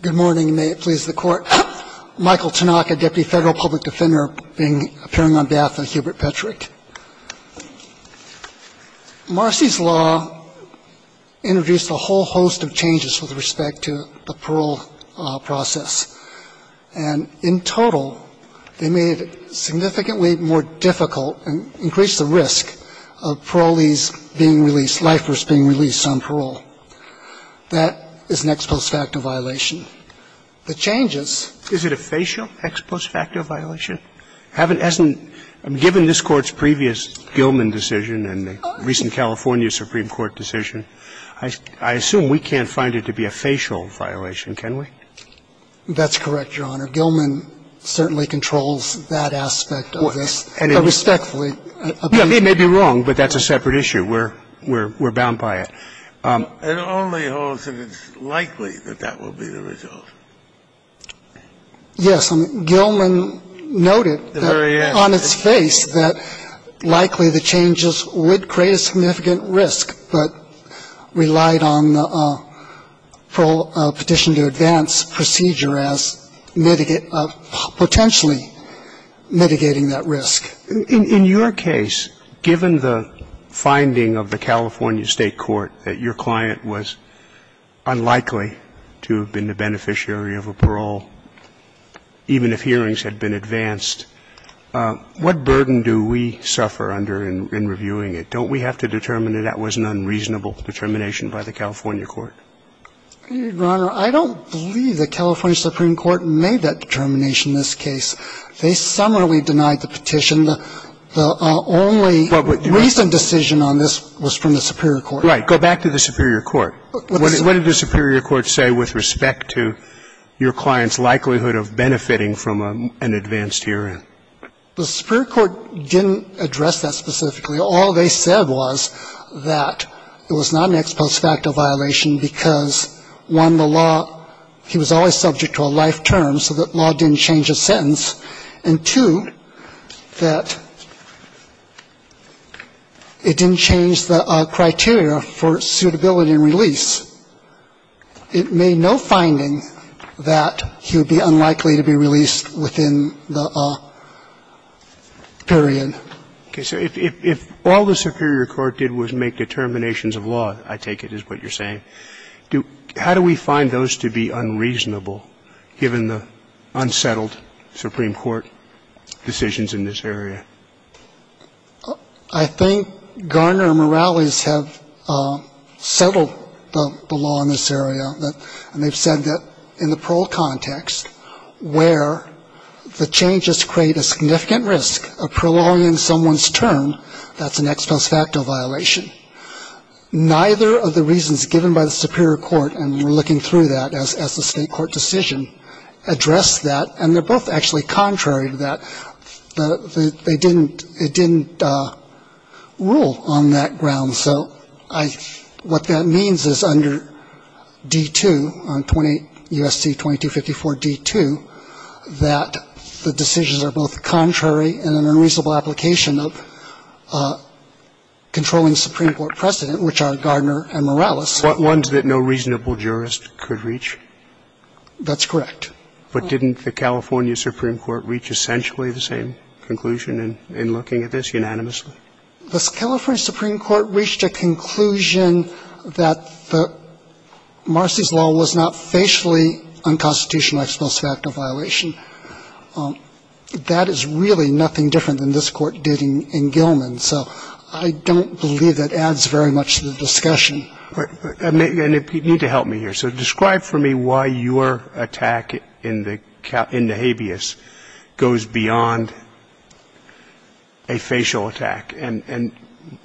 Good morning. May it please the Court. Michael Tanaka, Deputy Federal Public Defender, appearing on behalf of Hubert Petrich. Marcy's law introduced a whole host of changes with respect to the parole process. And in total, they made it significantly more difficult and increased the risk of parolees being released, lifers being released on parole. That is an ex post facto violation. The changes Is it a facial ex post facto violation? Given this Court's previous Gilman decision and the recent California Supreme Court decision, I assume we can't find it to be a facial violation, can we? That's correct, Your Honor. Gilman certainly controls that aspect of this, respectfully. He may be wrong, but that's a separate issue. We're bound by it. It only holds that it's likely that that will be the result. Yes. Gilman noted on its face that likely the changes would create a significant In your case, given the finding of the California State court that your client was unlikely to have been the beneficiary of a parole, even if hearings had been advanced, what burden do we suffer under in reviewing it? Don't we have to determine if it's a facial unreasonable determination by the California court? Your Honor, I don't believe the California Supreme Court made that determination in this case. They summarily denied the petition. The only recent decision on this was from the superior court. Right. Go back to the superior court. What did the superior court say with respect to your client's likelihood of benefiting from an advanced hearing? The superior court didn't address that specifically. All they said was that it was not an ex post facto violation because, one, the law, he was always subject to a life term, so that law didn't change his sentence. And, two, that it didn't change the criteria for suitability and release. It made no finding that he would be unlikely to be released within the period. Okay. So if all the superior court did was make determinations of law, I take it is what you're saying, how do we find those to be unreasonable given the unsettled Supreme Court decisions in this area? I think Garner and Morales have settled the law in this area, and they've said that in the parole context, where the changes create a significant risk of prolonging someone's term, that's an ex post facto violation. Neither of the reasons given by the superior court, and we're looking through that as the State court decision, address that, and they're both actually contrary to that, that they didn't rule on that ground. So what that means is under D-2, U.S.C. 2254-D-2, that the decisions are both contrary and an unreasonable application of controlling the Supreme Court precedent, which are Garner and Morales. What ones that no reasonable jurist could reach? That's correct. But didn't the California Supreme Court reach essentially the same conclusion in looking at this unanimously? The California Supreme Court reached a conclusion that Marcy's law was not facially unconstitutional ex post facto violation. That is really nothing different than this Court did in Gilman, so I don't believe that adds very much to the discussion. You need to help me here. So describe for me why your attack in the habeas goes beyond a facial attack. And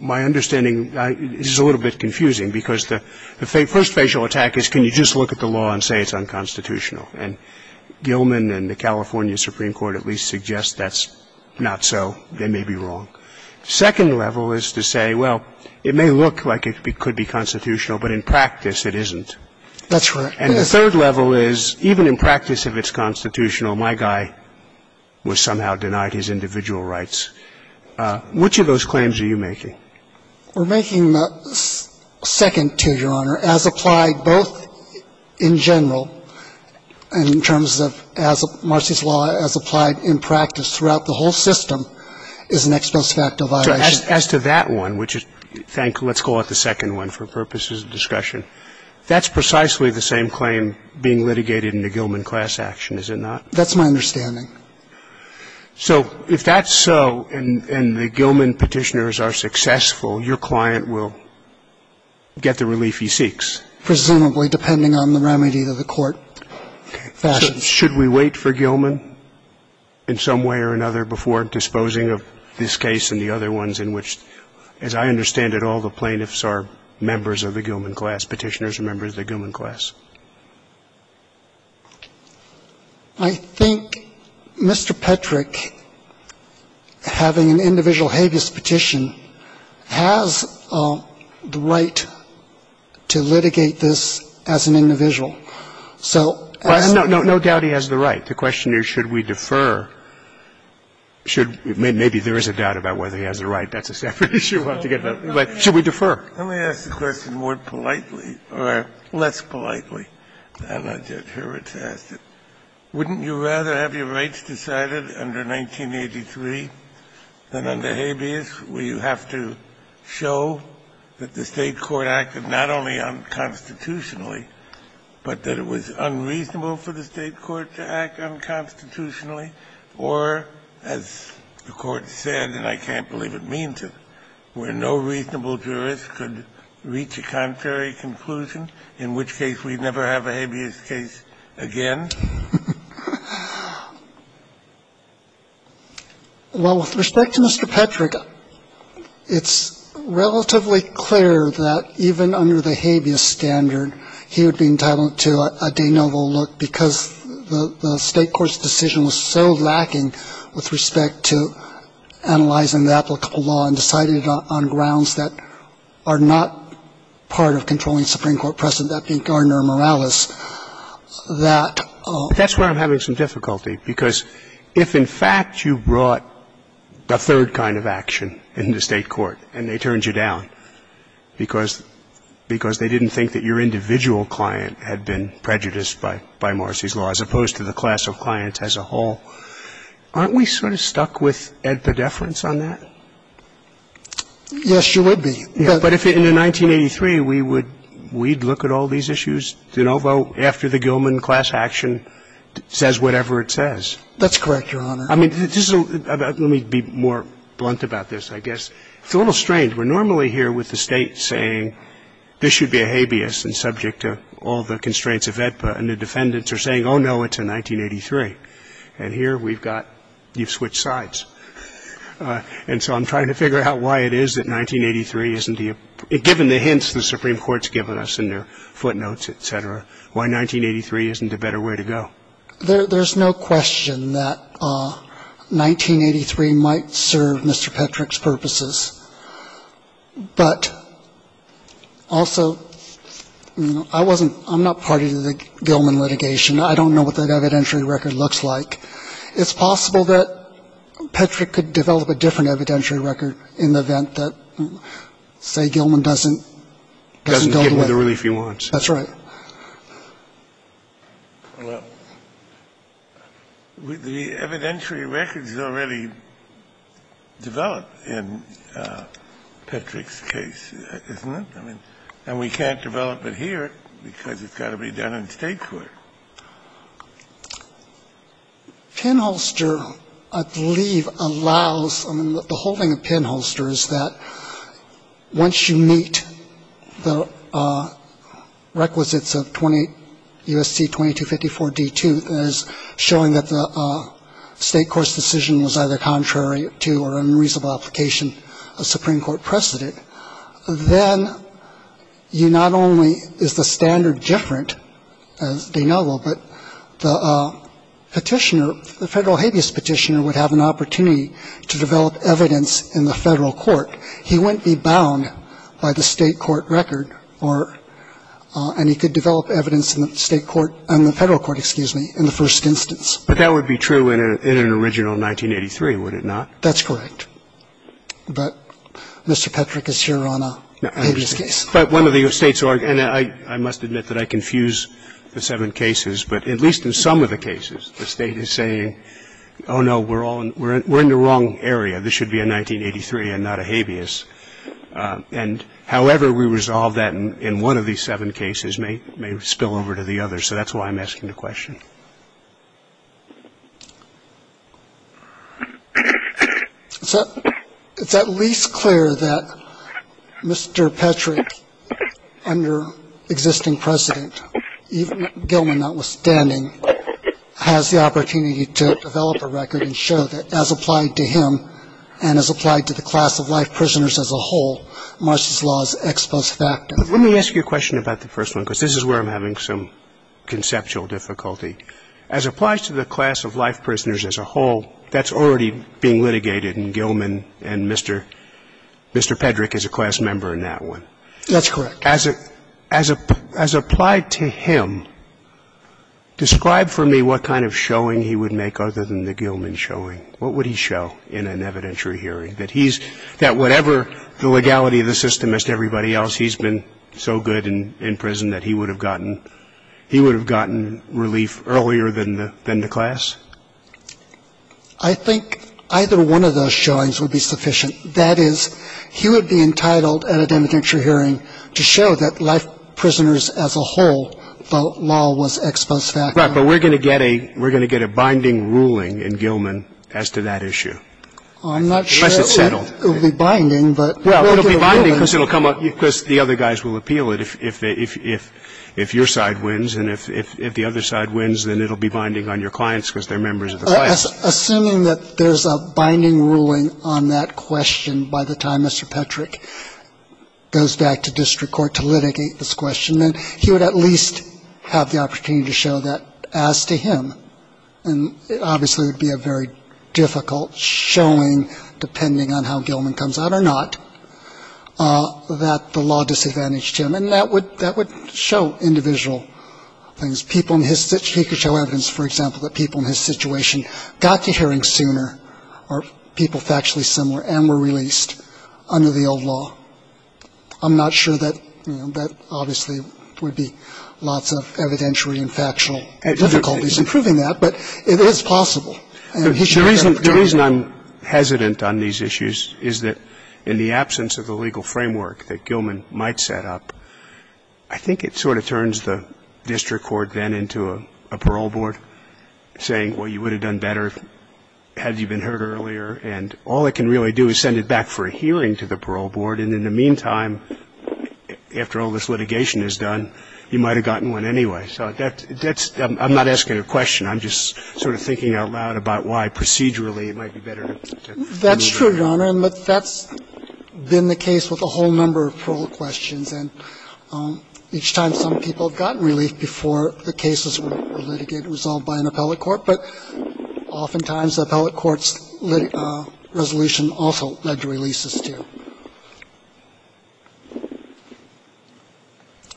my understanding is a little bit confusing because the first facial attack is can you just look at the law and say it's unconstitutional. And Gilman and the California Supreme Court at least suggest that's not so. They may be wrong. Second level is to say, well, it may look like it could be constitutional, but in practice it isn't. That's right. And the third level is even in practice if it's constitutional, my guy was somehow denied his individual rights. Which of those claims are you making? We're making the second to you, Your Honor, as applied both in general and in terms of as Marcy's law as applied in practice throughout the whole system is an ex post facto violation. As to that one, which is, let's call it the second one for purposes of discussion, that's precisely the same claim being litigated in the Gilman class action, is it not? That's my understanding. So if that's so and the Gilman petitioners are successful, your client will get the relief he seeks? Presumably, depending on the remedy that the court fashions. Should we wait for Gilman in some way or another before disposing of this case and the other ones in which, as I understand it, all the plaintiffs are members of the Gilman class, petitioners are members of the Gilman class? I think Mr. Petrick, having an individual habeas petition, has the right to litigate this as an individual. So as to the question of whether he has the right, the question is should we defer or should we defer? Maybe there is a doubt about whether he has the right. That's a separate issue we'll have to get to. But should we defer? Scalia. Let me ask the question more politely or less politely than Judge Hurwitz asked it. Wouldn't you rather have your rights decided under 1983 than under habeas, where you have to show that the State court acted not only unconstitutionally, but that it was unreasonable for the State court to act unconstitutionally? Or, as the Court said, and I can't believe it means it, where no reasonable jurist could reach a contrary conclusion, in which case we'd never have a habeas case again? Well, with respect to Mr. Petrick, it's relatively clear that even under the habeas standard, he would be entitled to a de novo look, because the State court's decision was so lacking with respect to analyzing the applicable law and deciding it on grounds that are not part of controlling Supreme Court precedent, that being Gardner and Morales. I think that's where I'm having some difficulty, because if, in fact, you brought a third kind of action in the State court and they turned you down because they didn't think that your individual client had been prejudiced by Marcy's law, as opposed to the class of clients as a whole, aren't we sort of stuck with a deference on that? Yes, you would be. But in 1983, we'd look at all these issues, de novo, after the Gilman class action says whatever it says. That's correct, Your Honor. I mean, let me be more blunt about this, I guess. It's a little strange. We're normally here with the State saying this should be a habeas and subject to all the constraints of AEDPA, and the defendants are saying, oh, no, it's a 1983. And here we've got you've switched sides. And so I'm trying to figure out why it is that 1983 isn't the ---- given the hints the Supreme Court's given us in their footnotes, et cetera, why 1983 isn't a better way to go. There's no question that 1983 might serve Mr. Petrick's purposes. But also, I wasn't ---- I'm not party to the Gilman litigation. I don't know what that evidentiary record looks like. It's possible that Petrick could develop a different evidentiary record in the event that, say, Gilman doesn't go to it. Doesn't get him the relief he wants. That's right. Well, the evidentiary record's already developed in Petrick's case, isn't it? I mean, and we can't develop it here because it's got to be done in State court. Pinholster, I believe, allows ---- I mean, the whole thing of Pinholster is that once you meet the requisites of 20 U.S.C. 2254 D2 as showing that the State court's decision was either contrary to or unreasonable application of Supreme Court precedent, then you not only is the standard different, as they know, but the Petitioner ---- the Federal habeas Petitioner would have an opportunity to develop evidence in the Federal court. He wouldn't be bound by the State court record or ---- and he could develop evidence in the State court ---- in the Federal court, excuse me, in the first instance. But that would be true in an original 1983, would it not? That's correct. But Mr. Petrick is here on a habeas case. But one of the States are ---- and I must admit that I confuse the seven cases, but at least in some of the cases the State is saying, oh, no, we're all ---- we're in the wrong area. This should be a 1983 and not a habeas. And however we resolve that in one of these seven cases may spill over to the other. So that's why I'm asking the question. So it's at least clear that Mr. Petrick, under existing precedent, even Gilman notwithstanding, has the opportunity to develop a record and show that as applied to him and as applied to the class of life prisoners as a whole, Marsh's law is ex post facto. But let me ask you a question about the first one, because this is where I'm having some conceptual difficulty. As applies to the class of life prisoners as a whole, that's already being litigated in Gilman and Mr. Petrick is a class member in that one. That's correct. As applied to him, describe for me what kind of showing he would make other than the Gilman showing. What would he show in an evidentiary hearing, that he's ---- that whatever the legality of the system is to everybody else, he's been so good in prison that he would have gotten relief earlier than the class? I think either one of those showings would be sufficient. That is, he would be entitled at an evidentiary hearing to show that life prisoners as a whole, the law was ex post facto. Right. But we're going to get a binding ruling in Gilman as to that issue. It's binding because the other guys will appeal it. If your side wins and if the other side wins, then it will be binding on your clients because they're members of the class. Assuming that there's a binding ruling on that question by the time Mr. Petrick goes back to district court to litigate this question, then he would at least have the opportunity to show that as to him. And obviously, it would be a very difficult showing depending on how Gilman comes out or not. That the law disadvantaged him. And that would show individual things. He could show evidence, for example, that people in his situation got to hearings sooner or people factually similar and were released under the old law. I'm not sure that, you know, that obviously would be lots of evidentiary and factual difficulties in proving that, but it is possible. The reason I'm hesitant on these issues is that in the absence of the legal framework that Gilman might set up, I think it sort of turns the district court then into a parole board saying, well, you would have done better had you been heard earlier. And all it can really do is send it back for a hearing to the parole board, and in the meantime, after all this litigation is done, you might have gotten one anyway. So that's the question. I'm not asking a question. I'm just sort of thinking out loud about why procedurally it might be better to remove it. That's true, Your Honor. That's been the case with a whole number of parole questions. And each time some people have gotten relief before the cases were litigated and resolved by an appellate court, but oftentimes the appellate court's resolution also led to releases, too.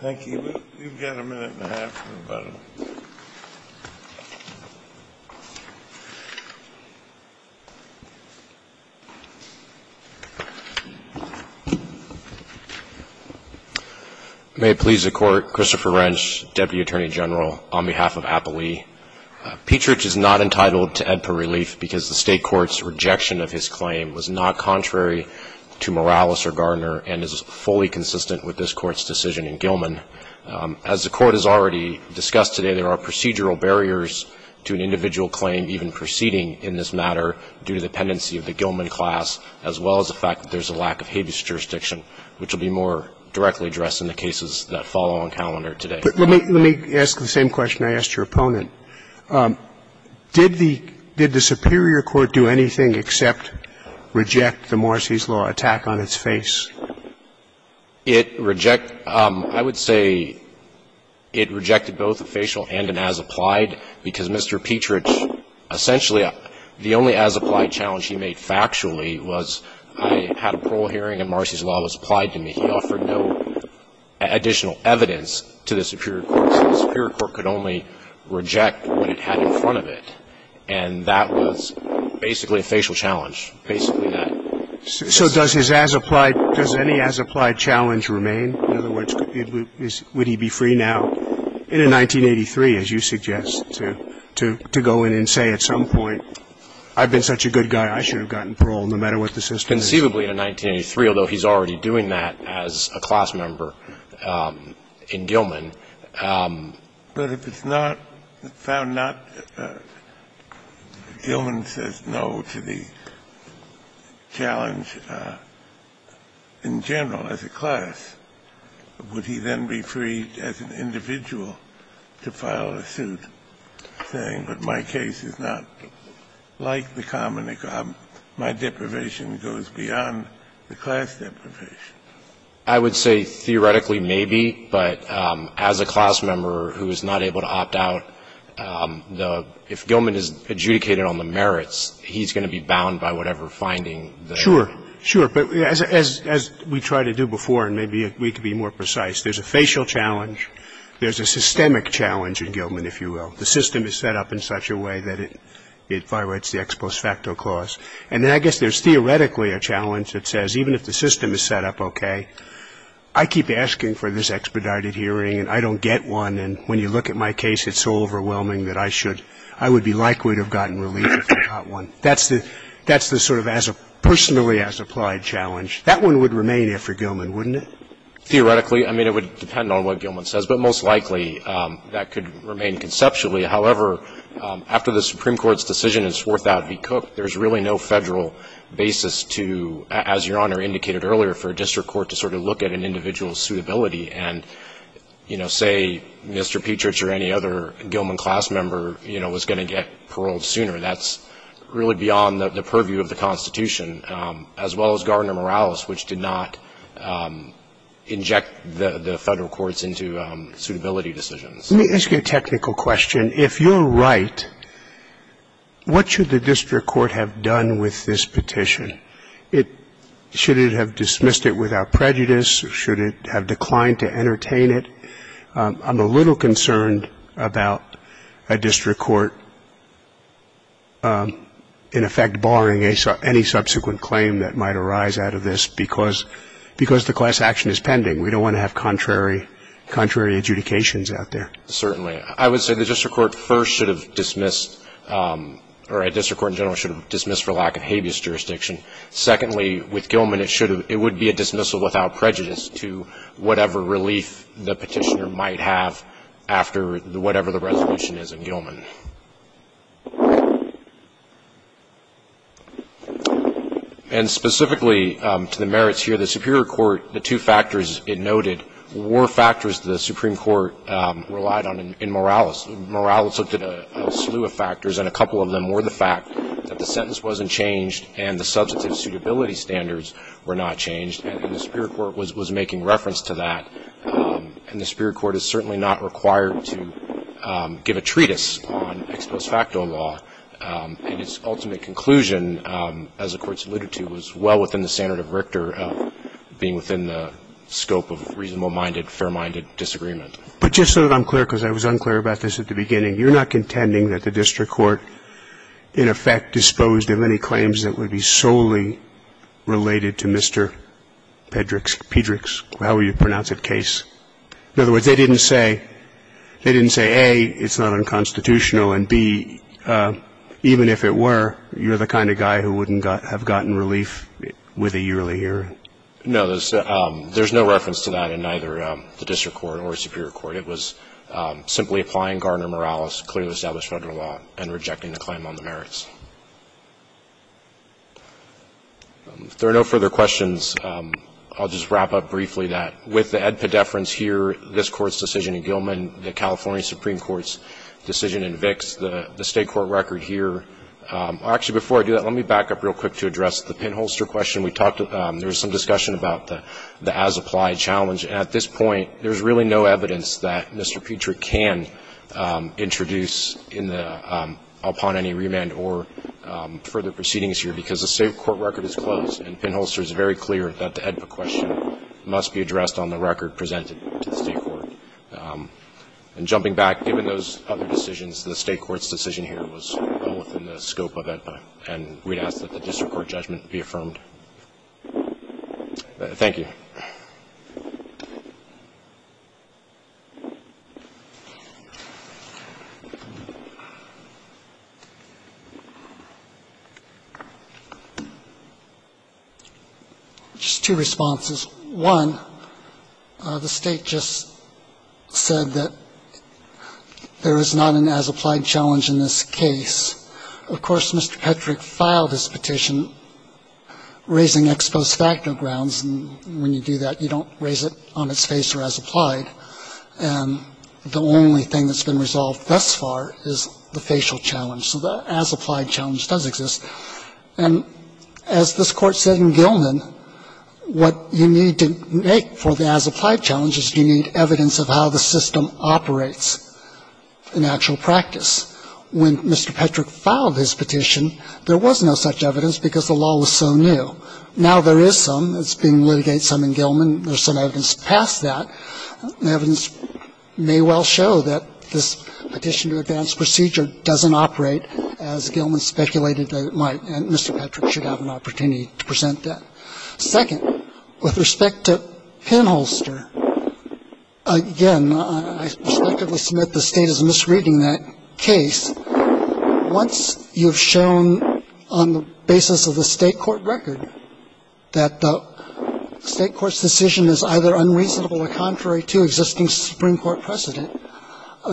Thank you. We've got a minute and a half. Go ahead. May it please the Court. Christopher Wrench, Deputy Attorney General, on behalf of Appallee. Petrich is not entitled to AEDPA relief because the State court's rejection of his claim was not contrary to Morales or Gardner and is fully consistent with this Court's decision in Gilman. As the Court has already discussed today, there are procedural barriers to an individual claim even proceeding in this matter due to the pendency of the Gilman class, as well as the fact that there's a lack of habeas jurisdiction, which will be more directly addressed in the cases that follow on calendar today. Let me ask the same question I asked your opponent. Did the superior court do anything except reject the Morrissey's Law attack on its face? It rejected, I would say, it rejected both the facial and an as-applied, because Mr. Petrich, essentially the only as-applied challenge he made factually was I had a parole hearing and Morrissey's Law was applied to me. He offered no additional evidence to the superior court, so the superior court could only reject what it had in front of it, and that was basically a facial challenge, basically that. So does his as-applied, does any as-applied challenge remain? In other words, would he be free now, in 1983, as you suggest, to go in and say at some point, I've been such a good guy, I should have gotten parole, no matter what the system is? It's conceivably in 1983, although he's already doing that as a class member in Gilman. But if it's not found not, Gilman says no to the challenge in general as a class, would he then be free as an individual to file a suit saying that my case is not like the common, my deprivation goes beyond the class deprivation? I would say theoretically maybe, but as a class member who is not able to opt out, the – if Gilman is adjudicated on the merits, he's going to be bound by whatever finding. Sure. Sure. But as we tried to do before, and maybe we could be more precise, there's a facial challenge, there's a systemic challenge in Gilman, if you will. If the system is set up in such a way that it violates the ex post facto clause. And then I guess there's theoretically a challenge that says, even if the system is set up okay, I keep asking for this expedited hearing and I don't get one, and when you look at my case, it's so overwhelming that I should – I would be likely to have gotten relief if I got one. That's the sort of as a – personally as applied challenge. That one would remain after Gilman, wouldn't it? Theoretically. I mean, it would depend on what Gilman says. But most likely that could remain conceptually. However, after the Supreme Court's decision in Swarthout v. Cook, there's really no federal basis to, as Your Honor indicated earlier, for a district court to sort of look at an individual's suitability and, you know, say Mr. Petrich or any other Gilman class member, you know, was going to get paroled sooner. That's really beyond the purview of the Constitution, as well as Gardner-Morales, which did not inject the federal courts into suitability decisions. Let me ask you a technical question. If you're right, what should the district court have done with this petition? It – should it have dismissed it without prejudice? Should it have declined to entertain it? I'm a little concerned about a district court, in effect, barring any subsequent claim that might arise out of this because the class action is pending. We don't want to have contrary adjudications out there. Certainly. I would say the district court first should have dismissed – or a district court in general should have dismissed for lack of habeas jurisdiction. Secondly, with Gilman, it would be a dismissal without prejudice to whatever relief the petitioner might have after whatever the resolution is in Gilman. And specifically to the merits here, the superior court, the two factors it noted, were factors the Supreme Court relied on in Morales. Morales looked at a slew of factors, and a couple of them were the fact that the sentence wasn't changed and the substantive suitability standards were not changed, and the superior court was making reference to that. And the superior court is certainly not required to give a treatise on ex post facto law, and its ultimate conclusion, as the Court alluded to, was well within the standard of Richter being within the scope of reasonable-minded, fair-minded disagreement. But just so that I'm clear, because I was unclear about this at the beginning, you're not contending that the district court, in effect, disposed of any claims that would be solely related to Mr. Pedrick's – in other words, they didn't say, they didn't say, A, it's not unconstitutional, and, B, even if it were, you're the kind of guy who wouldn't have gotten relief with a yearly hearing? No. There's no reference to that in neither the district court or the superior court. It was simply applying Gardner-Morales' clearly established Federal law and rejecting the claim on the merits. If there are no further questions, I'll just wrap up briefly that, with the AEDPA deference here, this Court's decision in Gilman, the California Supreme Court's decision in Vicks, the State court record here – actually, before I do that, let me back up real quick to address the Penholster question. We talked – there was some discussion about the as-applied challenge. At this point, there's really no evidence that Mr. Pedrick can introduce in the – upon any remand or further proceedings here, because the State court record is closed, and Penholster is very clear that the AEDPA question must be addressed on the record presented to the State court. And jumping back, given those other decisions, the State court's decision here was well within the scope of AEDPA, and we'd ask that the district court judgment be affirmed. Thank you. Just two responses. One, the State just said that there is not an as-applied challenge in this case. Of course, Mr. Pedrick filed his petition raising ex post facto grounds, and when you do that, you don't raise it on its face or as applied. And the only thing that's been resolved thus far is the facial challenge. So the as-applied challenge does exist. And as this Court said in Gilman, what you need to make for the as-applied challenge is you need evidence of how the system operates in actual practice. When Mr. Pedrick filed his petition, there was no such evidence because the law was so new. Now there is some. It's being litigated, some in Gilman. There's some evidence past that. The evidence may well show that this petition to advance procedure doesn't operate, as Gilman speculated that it might. And Mr. Pedrick should have an opportunity to present that. Second, with respect to Penholster, again, I respectfully submit the State is misreading that case. Once you've shown on the basis of the State court record that the State court's decision is either unreasonable or contrary to existing Supreme Court precedent,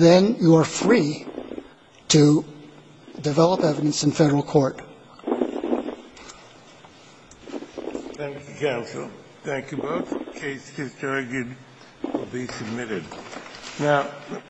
then you are free to develop evidence in Federal court. Thank you, counsel. Thank you both. The case is targeted to be submitted. Now,